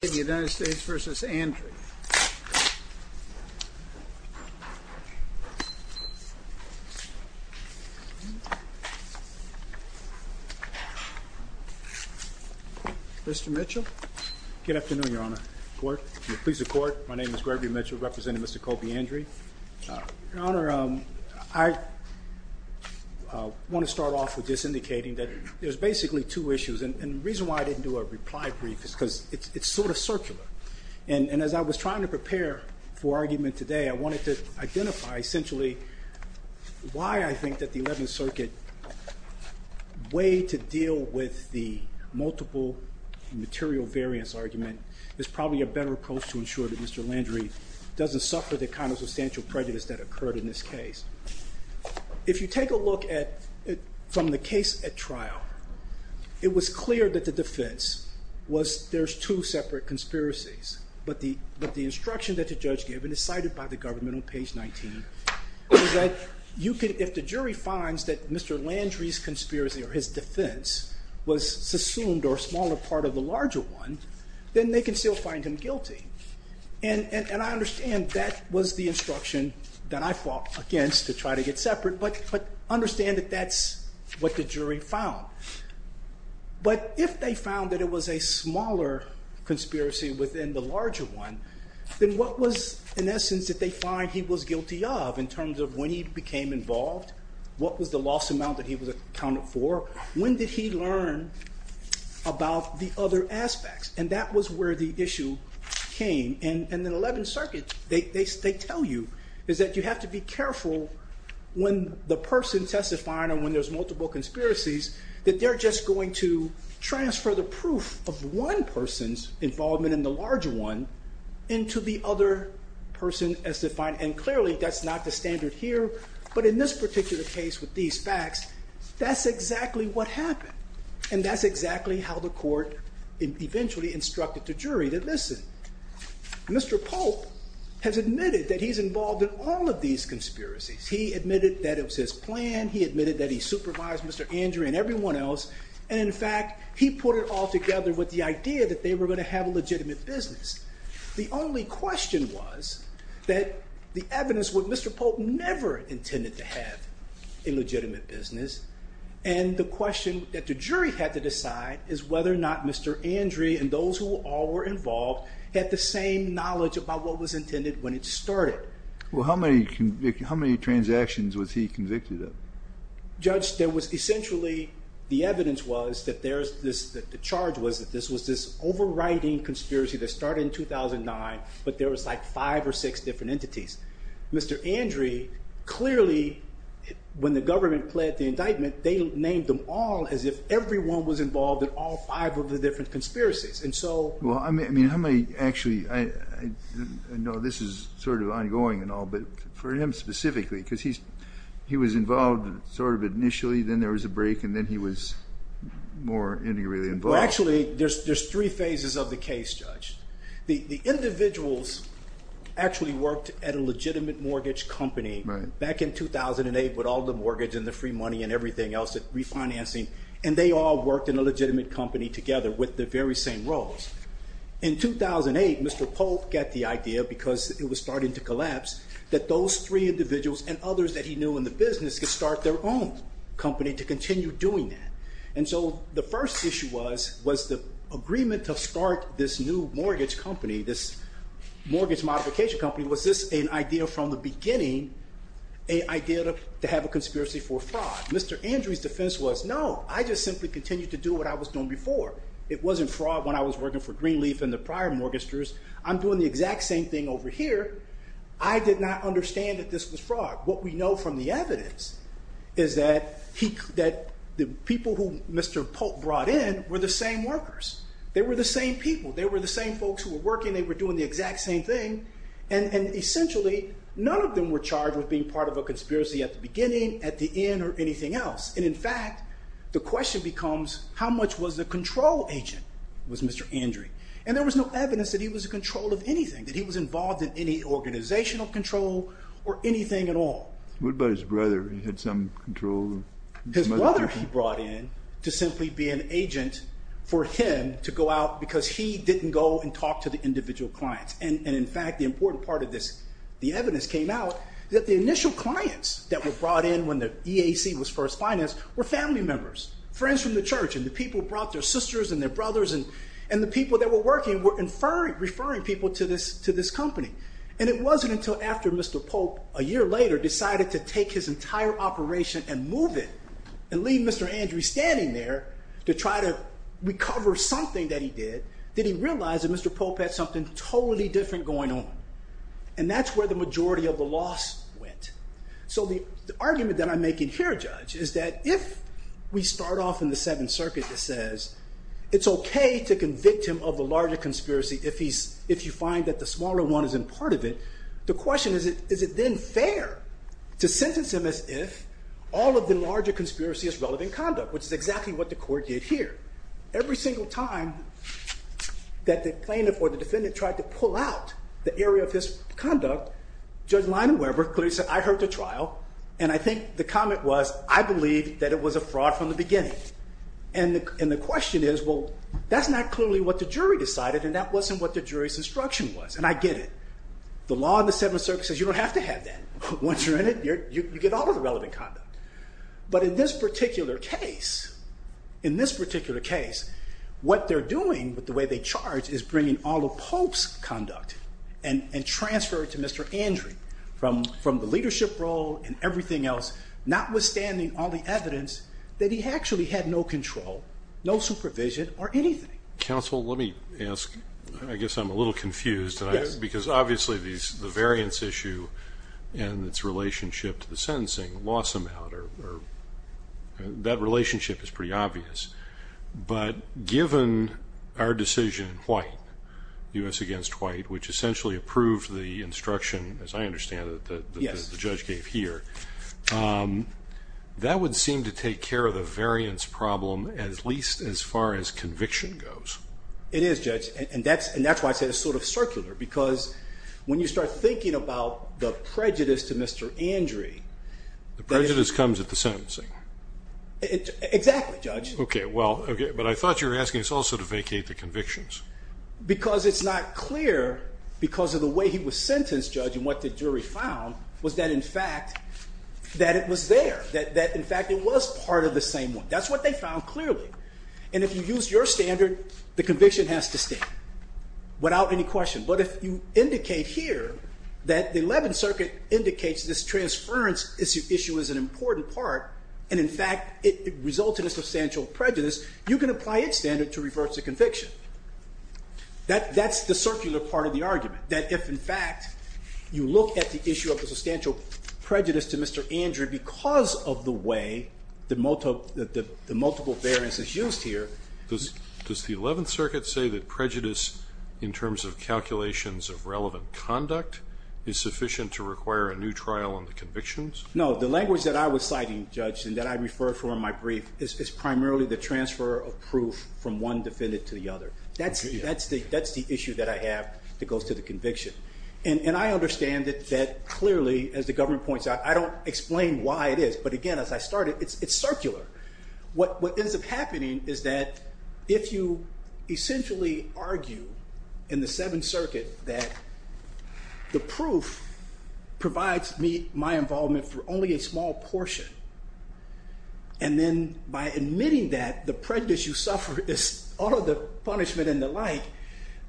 The United States v. Andry Mr. Mitchell Good afternoon, Your Honor. Court, please report. My name is Gregory Mitchell representing Mr. Colbi Andry Your Honor, I want to start off with just indicating that there's basically two issues and the reason why I didn't do a reply brief is because it's sort of circular. And as I was trying to prepare for argument today, I wanted to identify essentially why I think that the 11th Circuit way to deal with the multiple material variance argument is probably a better approach to ensure that Mr. Andry doesn't suffer the kind of substantial prejudice that occurred in this case. If you take a look at it from the case at trial, it was clear that the jury finds that Mr. Andry's conspiracy or his defense was a smaller part of the larger one, then they can still find him guilty. And I understand that was the conspiracy within the larger one. Then what was, in essence, that they find he was guilty of in terms of when he became involved? What was the loss amount that he was accounted for? When did he learn about the other aspects? And that was where the issue came. And in the 11th Circuit, they tell you is that you have to be involvement in the larger one into the other person as defined. And clearly, that's not the standard here. But in this particular case with these facts, that's exactly what happened. And that's exactly how the court eventually instructed the jury that, listen, Mr. Pope has admitted that he's involved in all of these conspiracies. He admitted that it was his plan. He admitted that he supervised Mr. Andry and everyone else. And in fact, he put it all together with the idea that they were going to have a legitimate business. The only question was that the evidence would Mr. Pope never intended to have a legitimate business. And the question that the jury had to decide is whether or not Mr. Andry and those who all were involved had the same knowledge about what was intended when it started. Well, how many transactions was he convicted of? Judge, there was essentially, the evidence was that the charge was that this was this overriding conspiracy that started in 2009, but there was like five or six different entities. Mr. Andry, clearly, when the government pled the indictment, they named them all as if everyone was involved in all five of the different for him specifically, because he was involved sort of initially, then there was a break, and then he was more integrally involved. Well, actually, there's three phases of the case, Judge. The individuals actually worked at a legitimate mortgage company back in 2008 with all the mortgage and the free money and everything else, refinancing. And they all worked in a legitimate company together with the very same roles. In 2008, Mr. Pope got the idea, because it was starting to collapse, that those three individuals and others that he knew in the business could start their own company to continue doing that. And so the first issue was, was the agreement to start this new mortgage company, this mortgage modification company, was this an idea from the before? It wasn't fraud when I was working for Greenleaf and the prior mortgages. I'm doing the exact same thing over here. I did not understand that this was fraud. What we know from the evidence is that the people who Mr. Pope brought in were the same workers. They were the same people. They were the same folks who were working. They were doing the exact same thing. And essentially, none of them were charged with being part of a control agent was Mr. Andre. And there was no evidence that he was in control of anything, that he was involved in any organizational control or anything at all. What about his brother? He had some control? His brother he brought in to simply be an agent for him to go out because he didn't go and talk to the individual clients. And in fact, the important part of this, the evidence came out that the initial clients that were brought in when the EAC was first financed were family members, friends from the church and the people who brought their sisters and their brothers and the people that were working were referring people to this company. And it wasn't until after Mr. Pope, a year later, decided to take his entire operation and move it and leave Mr. Andre standing there to try to recover something that he did, that he realized that Mr. Pope had something totally different going on. And that's where the majority of the loss went. So the argument that I'm making here, Judge, is that if we start off in the Seventh Circuit that says it's OK to convict him of the larger conspiracy if you find that the smaller one isn't part of it. The question is, is it then fair to sentence him as if all of the larger conspiracy is relevant conduct, which is exactly what the court did here. Every single time that the plaintiff or the defendant tried to pull out the area of his conduct, Judge Leinenweber clearly said, I heard the trial, and I think the comment was, I believe that it was a fraud from the beginning. And the question is, well, that's not clearly what the jury decided and that wasn't what the jury's instruction was. And I get it. The law in the Seventh Circuit says you don't have to have that. Once you're in it, you get all of the relevant conduct. But in this particular case, in this particular case, what they're doing with the way they charge is bringing all of Pope's conduct and transfer it to Mr. Andrew from the leadership role and everything else, notwithstanding all the evidence that he actually had no control, no supervision or anything. Counsel, let me ask. I guess I'm a little confused because obviously the variance issue and its relationship to the sentencing loss amount or that relationship is pretty obvious. But given our decision in White, U.S. against White, which essentially approved the instruction, as I understand it, that the judge gave here, that would seem to take care of the variance problem at least as far as conviction goes. It is, Judge. And that's why I said it's sort of circular because when you start thinking about the prejudice to Mr. Andrew... The prejudice comes at the sentencing. Exactly, Judge. Okay, well, but I thought you were asking us also to vacate the convictions. Because it's not clear because of the way he was sentenced, Judge, and what the jury found was that in fact that it was there, that in fact it was part of the same one. That's what they found clearly. And if you use your standard, the conviction has to stay without any question. But if you indicate here that the Eleventh Circuit indicates this transference issue is an important part, and in fact it resulted in substantial prejudice, you can apply its standard to reverse the conviction. That's the circular part of the argument. That if in fact you look at the issue of the substantial prejudice to Mr. Andrew because of the way the multiple variance is used here... Does the Eleventh Circuit say that prejudice in terms of calculations of relevant conduct is sufficient to require a new trial on the convictions? No, the language that I was citing, Judge, and that I referred from in my brief is primarily the transfer of proof from one defendant to the other. That's the issue that I have that goes to the conviction. And I understand that clearly, as the government points out, I don't explain why it is, but again as I started, it's circular. What ends up happening is that if you essentially argue in the Seventh Circuit that the proof provides my involvement for only a small portion, and then by admitting that the prejudice you suffer is all of the punishment and the like,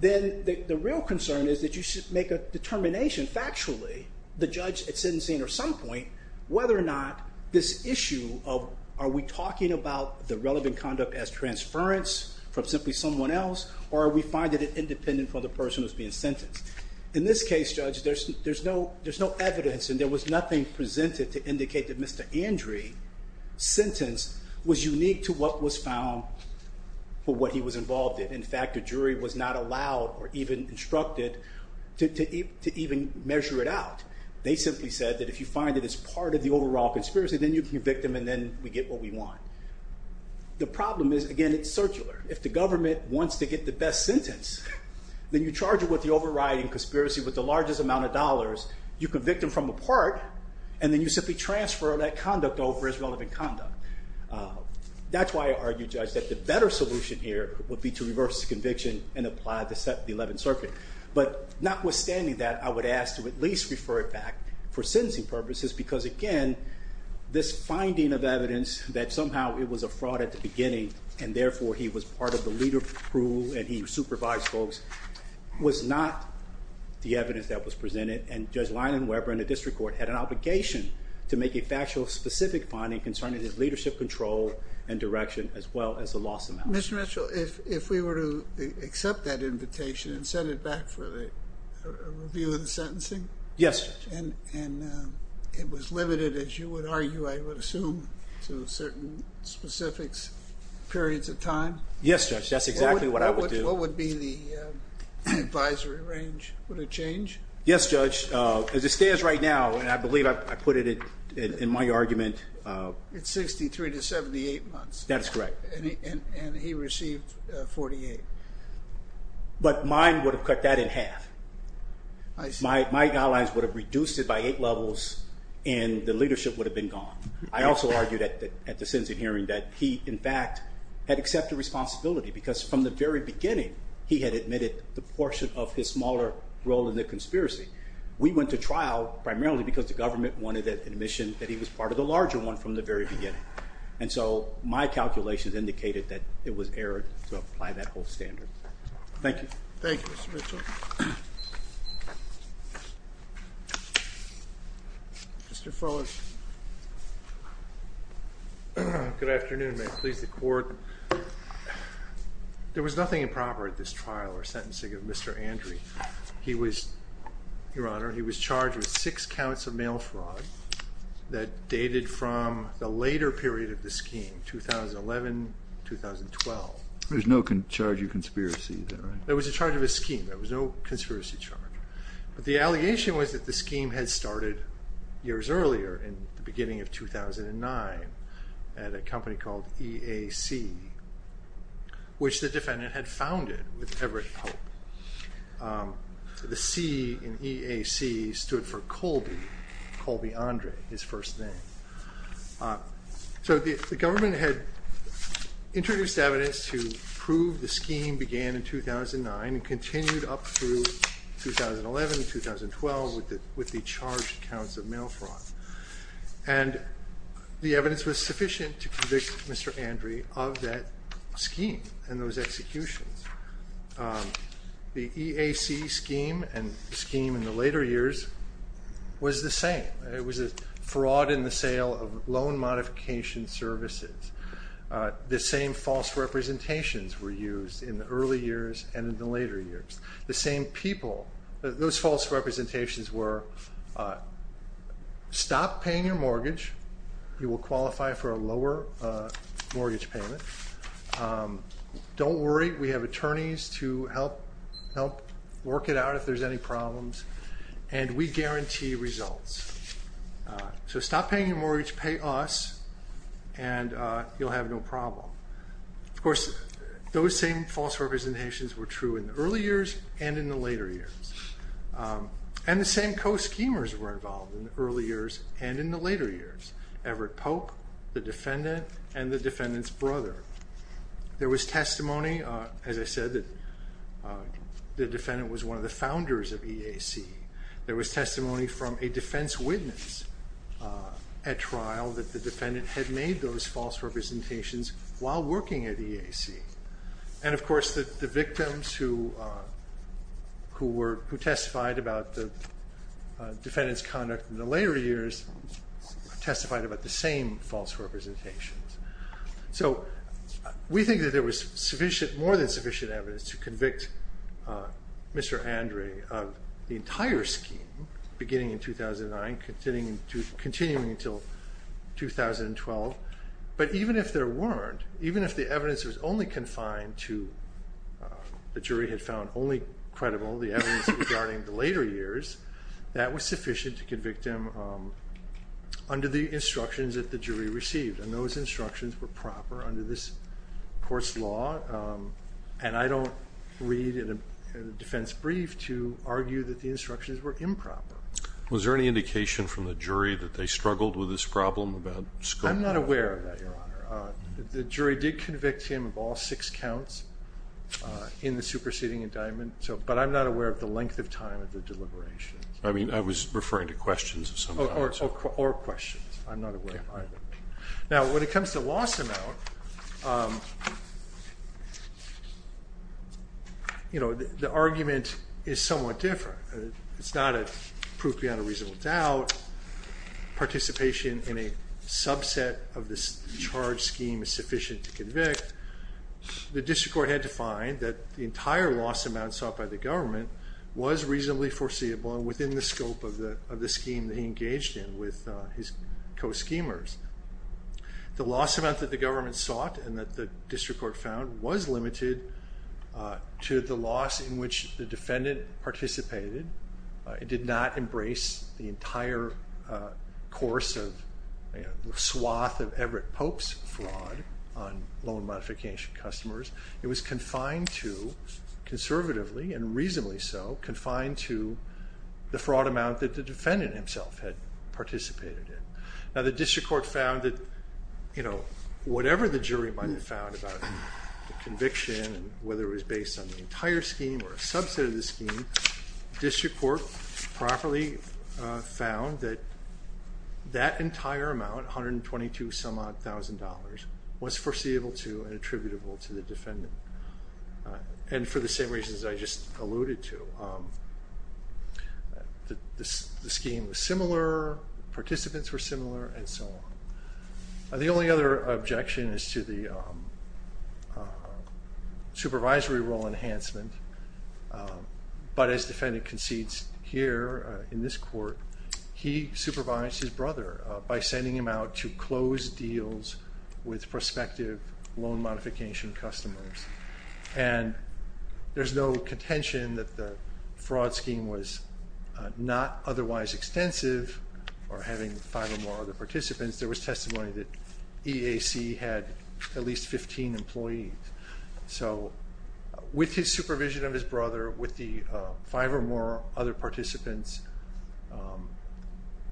then the real concern is that you should make a determination factually, the judge at sentencing or some point, whether or not this issue of are we talking about the relevant conduct as transference from simply someone else, or are we finding it independent from the person who's being sentenced? In this case, Judge, there's no evidence and there was nothing presented to indicate that Mr. Andree's sentence was unique to what was found for what he was involved in. In fact, the jury was not allowed or even instructed to even measure it out. They simply said that if you find it as part of the overall conspiracy, then you can convict him and then we get what we want. The problem is, again, it's circular. If the government wants to get the best sentence, then you charge it with the overriding conspiracy with the largest amount of dollars. You convict him from a part, and then you simply transfer that conduct over as relevant conduct. That's why I argue, Judge, that the better solution here would be to reverse the conviction and apply the Eleventh Circuit. Notwithstanding that, I would ask to at least refer it back for sentencing purposes because, again, this finding of evidence that somehow it was a fraud at the beginning and, therefore, he was part of the leader crew and he supervised folks was not the evidence that was presented. Judge Lyon and Weber in the district court had an obligation to make a factual specific finding concerning his leadership control and direction as well as the loss amount. Mr. Mitchell, if we were to accept that invitation and send it back for the review of the sentencing? Yes, Judge. And it was limited, as you would argue, I would assume, to certain specific periods of time? Yes, Judge. That's exactly what I would do. What would be the advisory range? Would it change? Yes, Judge. As it stands right now, and I believe I put it in my argument. It's 63 to 78 months. That is correct. And he received 48. But mine would have cut that in half. I see. My guidelines would have reduced it by eight levels and the leadership would have been gone. I also argued at the sentencing hearing that he, in fact, had accepted responsibility because from the very beginning he had admitted the portion of his smaller role in the conspiracy. We went to trial primarily because the government wanted the admission that he was part of the larger one from the very beginning. And so my calculations indicated that it was errant to apply that whole standard. Thank you. Thank you, Mr. Mitchell. Mr. Fuller. Good afternoon. May it please the Court. There was nothing improper at this trial or sentencing of Mr. Andre. Your Honor, he was charged with six counts of mail fraud that dated from the later period of the scheme, 2011-2012. There was no charge of conspiracy there, right? There was a charge of a scheme. There was no conspiracy charge. The allegation was that the scheme had started years earlier in the beginning of 2009 at a company called EAC, which the defendant had founded with Everett Pope. The C in EAC stood for Colby, Colby Andre, his first name. So the government had introduced evidence to prove the scheme began in 2009 and continued up through 2011-2012 with the charged counts of mail fraud. And the evidence was sufficient to convict Mr. Andre of that scheme and those executions. The EAC scheme and the scheme in the later years was the same. It was a fraud in the sale of loan modification services. The same false representations were used in the early years and in the later years. The same people, those false representations were, stop paying your mortgage. You will qualify for a lower mortgage payment. Don't worry. We have attorneys to help work it out if there's any problems. And we guarantee results. So stop paying your mortgage, pay us, and you'll have no problem. Of course, those same false representations were true in the early years and in the later years. And the same co-schemers were involved in the early years and in the later years. Everett Pope, the defendant, and the defendant's brother. There was testimony, as I said, that the defendant was one of the founders of EAC. There was testimony from a defense witness at trial that the defendant had made those false representations while working at EAC. And, of course, the victims who testified about the defendant's conduct in the later years testified about the same false representations. So we think that there was more than sufficient evidence to convict Mr. Andre of the entire scheme beginning in 2009, continuing until 2012. But even if there weren't, even if the evidence was only confined to the jury had found only credible, the evidence regarding the later years, that was sufficient to convict him under the instructions that the jury received. And those instructions were proper under this court's law. And I don't read a defense brief to argue that the instructions were improper. Was there any indication from the jury that they struggled with this problem about scope? I'm not aware of that, Your Honor. The jury did convict him of all six counts in the superseding indictment, but I'm not aware of the length of time of the deliberations. I mean, I was referring to questions of some kind. Or questions. I'm not aware of either. Now, when it comes to loss amount, you know, the argument is somewhat different. It's not a proof beyond a reasonable doubt. Participation in a subset of this charge scheme is sufficient to convict. The district court had to find that the entire loss amount sought by the government was reasonably foreseeable and within the scope of the scheme that he engaged in with his co-schemers. The loss amount that the government sought and that the district court found was limited to the loss in which the defendant participated. It did not embrace the entire course of the swath of Everett Pope's fraud on loan modification customers. It was confined to, conservatively and reasonably so, confined to the fraud amount that the defendant himself had participated in. Now, the district court found that, you know, whatever the jury might have found about the conviction, whether it was based on the entire scheme or a subset of the scheme, the district court properly found that that entire amount, $122,000, was foreseeable to and attributable to the defendant. And for the same reasons I just alluded to. The scheme was similar, participants were similar, and so on. The only other objection is to the supervisory role enhancement, but as defendant concedes here in this court, he supervised his brother by sending him out to close deals with prospective loan modification customers. And there's no contention that the fraud scheme was not otherwise extensive or having five or more other participants. Since there was testimony that EAC had at least 15 employees. So, with his supervision of his brother, with the five or more other participants,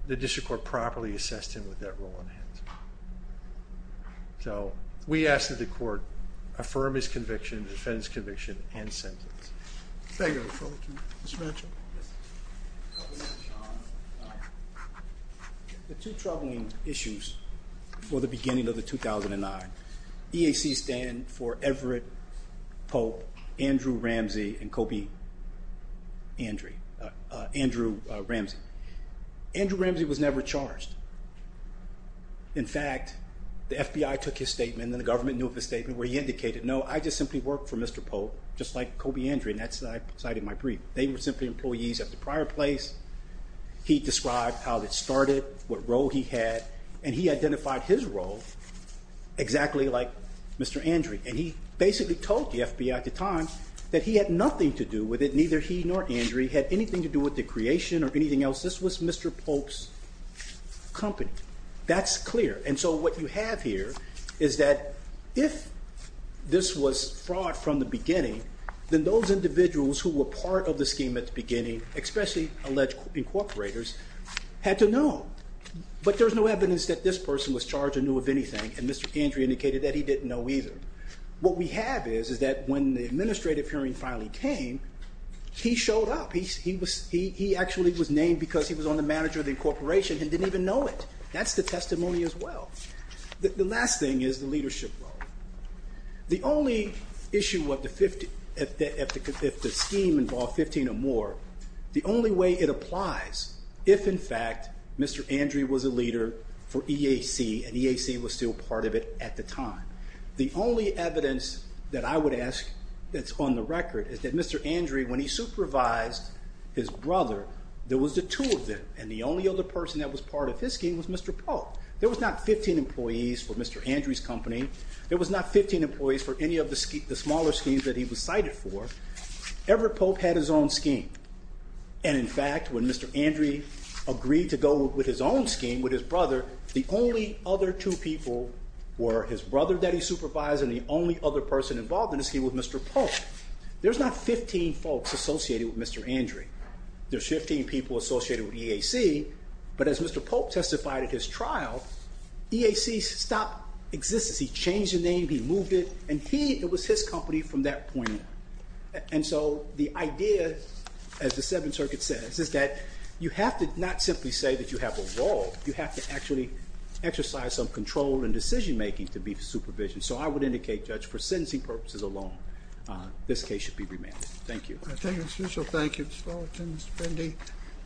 the district court properly assessed him with that role enhancement. So, we ask that the court affirm his conviction, defend his conviction, and sentence. Thank you. Mr. Mitchell. The two troubling issues for the beginning of the 2009 EAC stand for Everett Pope, Andrew Ramsey, and Kobe Andrew Ramsey. Andrew Ramsey was never charged. In fact, the FBI took his statement and the government knew of his statement where he indicated, no, I just simply work for Mr. Pope, just like Kobe Andrew, and that's why I cited my brief. They were simply employees at the prior place. He described how it started, what role he had, and he identified his role exactly like Mr. Andrew. And he basically told the FBI at the time that he had nothing to do with it, neither he nor Andrew had anything to do with the creation or anything else. This was Mr. Pope's company. That's clear. And so what you have here is that if this was fraud from the beginning, then those individuals who were part of the scheme at the beginning, especially alleged incorporators, had to know. But there's no evidence that this person was charged or knew of anything, and Mr. Andrew indicated that he didn't know either. What we have is that when the administrative hearing finally came, he showed up. He actually was named because he was on the manager of the incorporation and didn't even know it. That's the testimony as well. The last thing is the leadership role. The only issue if the scheme involved 15 or more, the only way it applies if, in fact, Mr. Andrew was a leader for EAC and EAC was still part of it at the time. The only evidence that I would ask that's on the record is that Mr. Andrew, when he supervised his brother, there was the two of them, and the only other person that was part of his scheme was Mr. Polk. There was not 15 employees for Mr. Andrew's company. There was not 15 employees for any of the smaller schemes that he was cited for. Everett Polk had his own scheme. And, in fact, when Mr. Andrew agreed to go with his own scheme with his brother, the only other two people were his brother that he supervised and the only other person involved in the scheme was Mr. Polk. There's not 15 folks associated with Mr. Andrew. There's 15 people associated with EAC, but as Mr. Polk testified at his trial, EAC stopped existence. He changed the name, he moved it, and it was his company from that point on. And so the idea, as the Seventh Circuit says, is that you have to not simply say that you have a role. You have to actually exercise some control and decision-making to be supervision. So I would indicate, Judge, for sentencing purposes alone, this case should be remanded. Thank you. Thank you, Mr. Mitchell. Thank you, Ms. Fullerton, Mr. Fendi.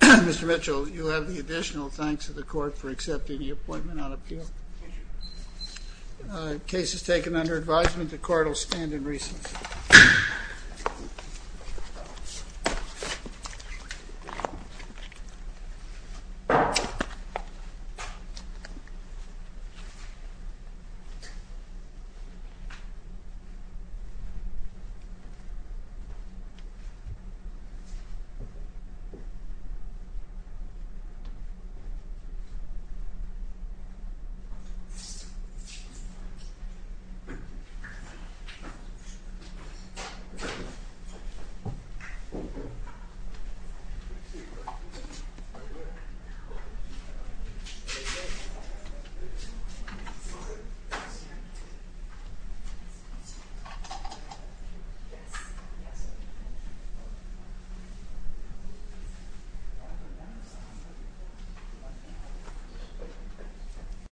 Mr. Mitchell, you have the additional thanks of the court for accepting the appointment on appeal. Case is taken under advisement. The court will stand in recess. Thank you. Thank you.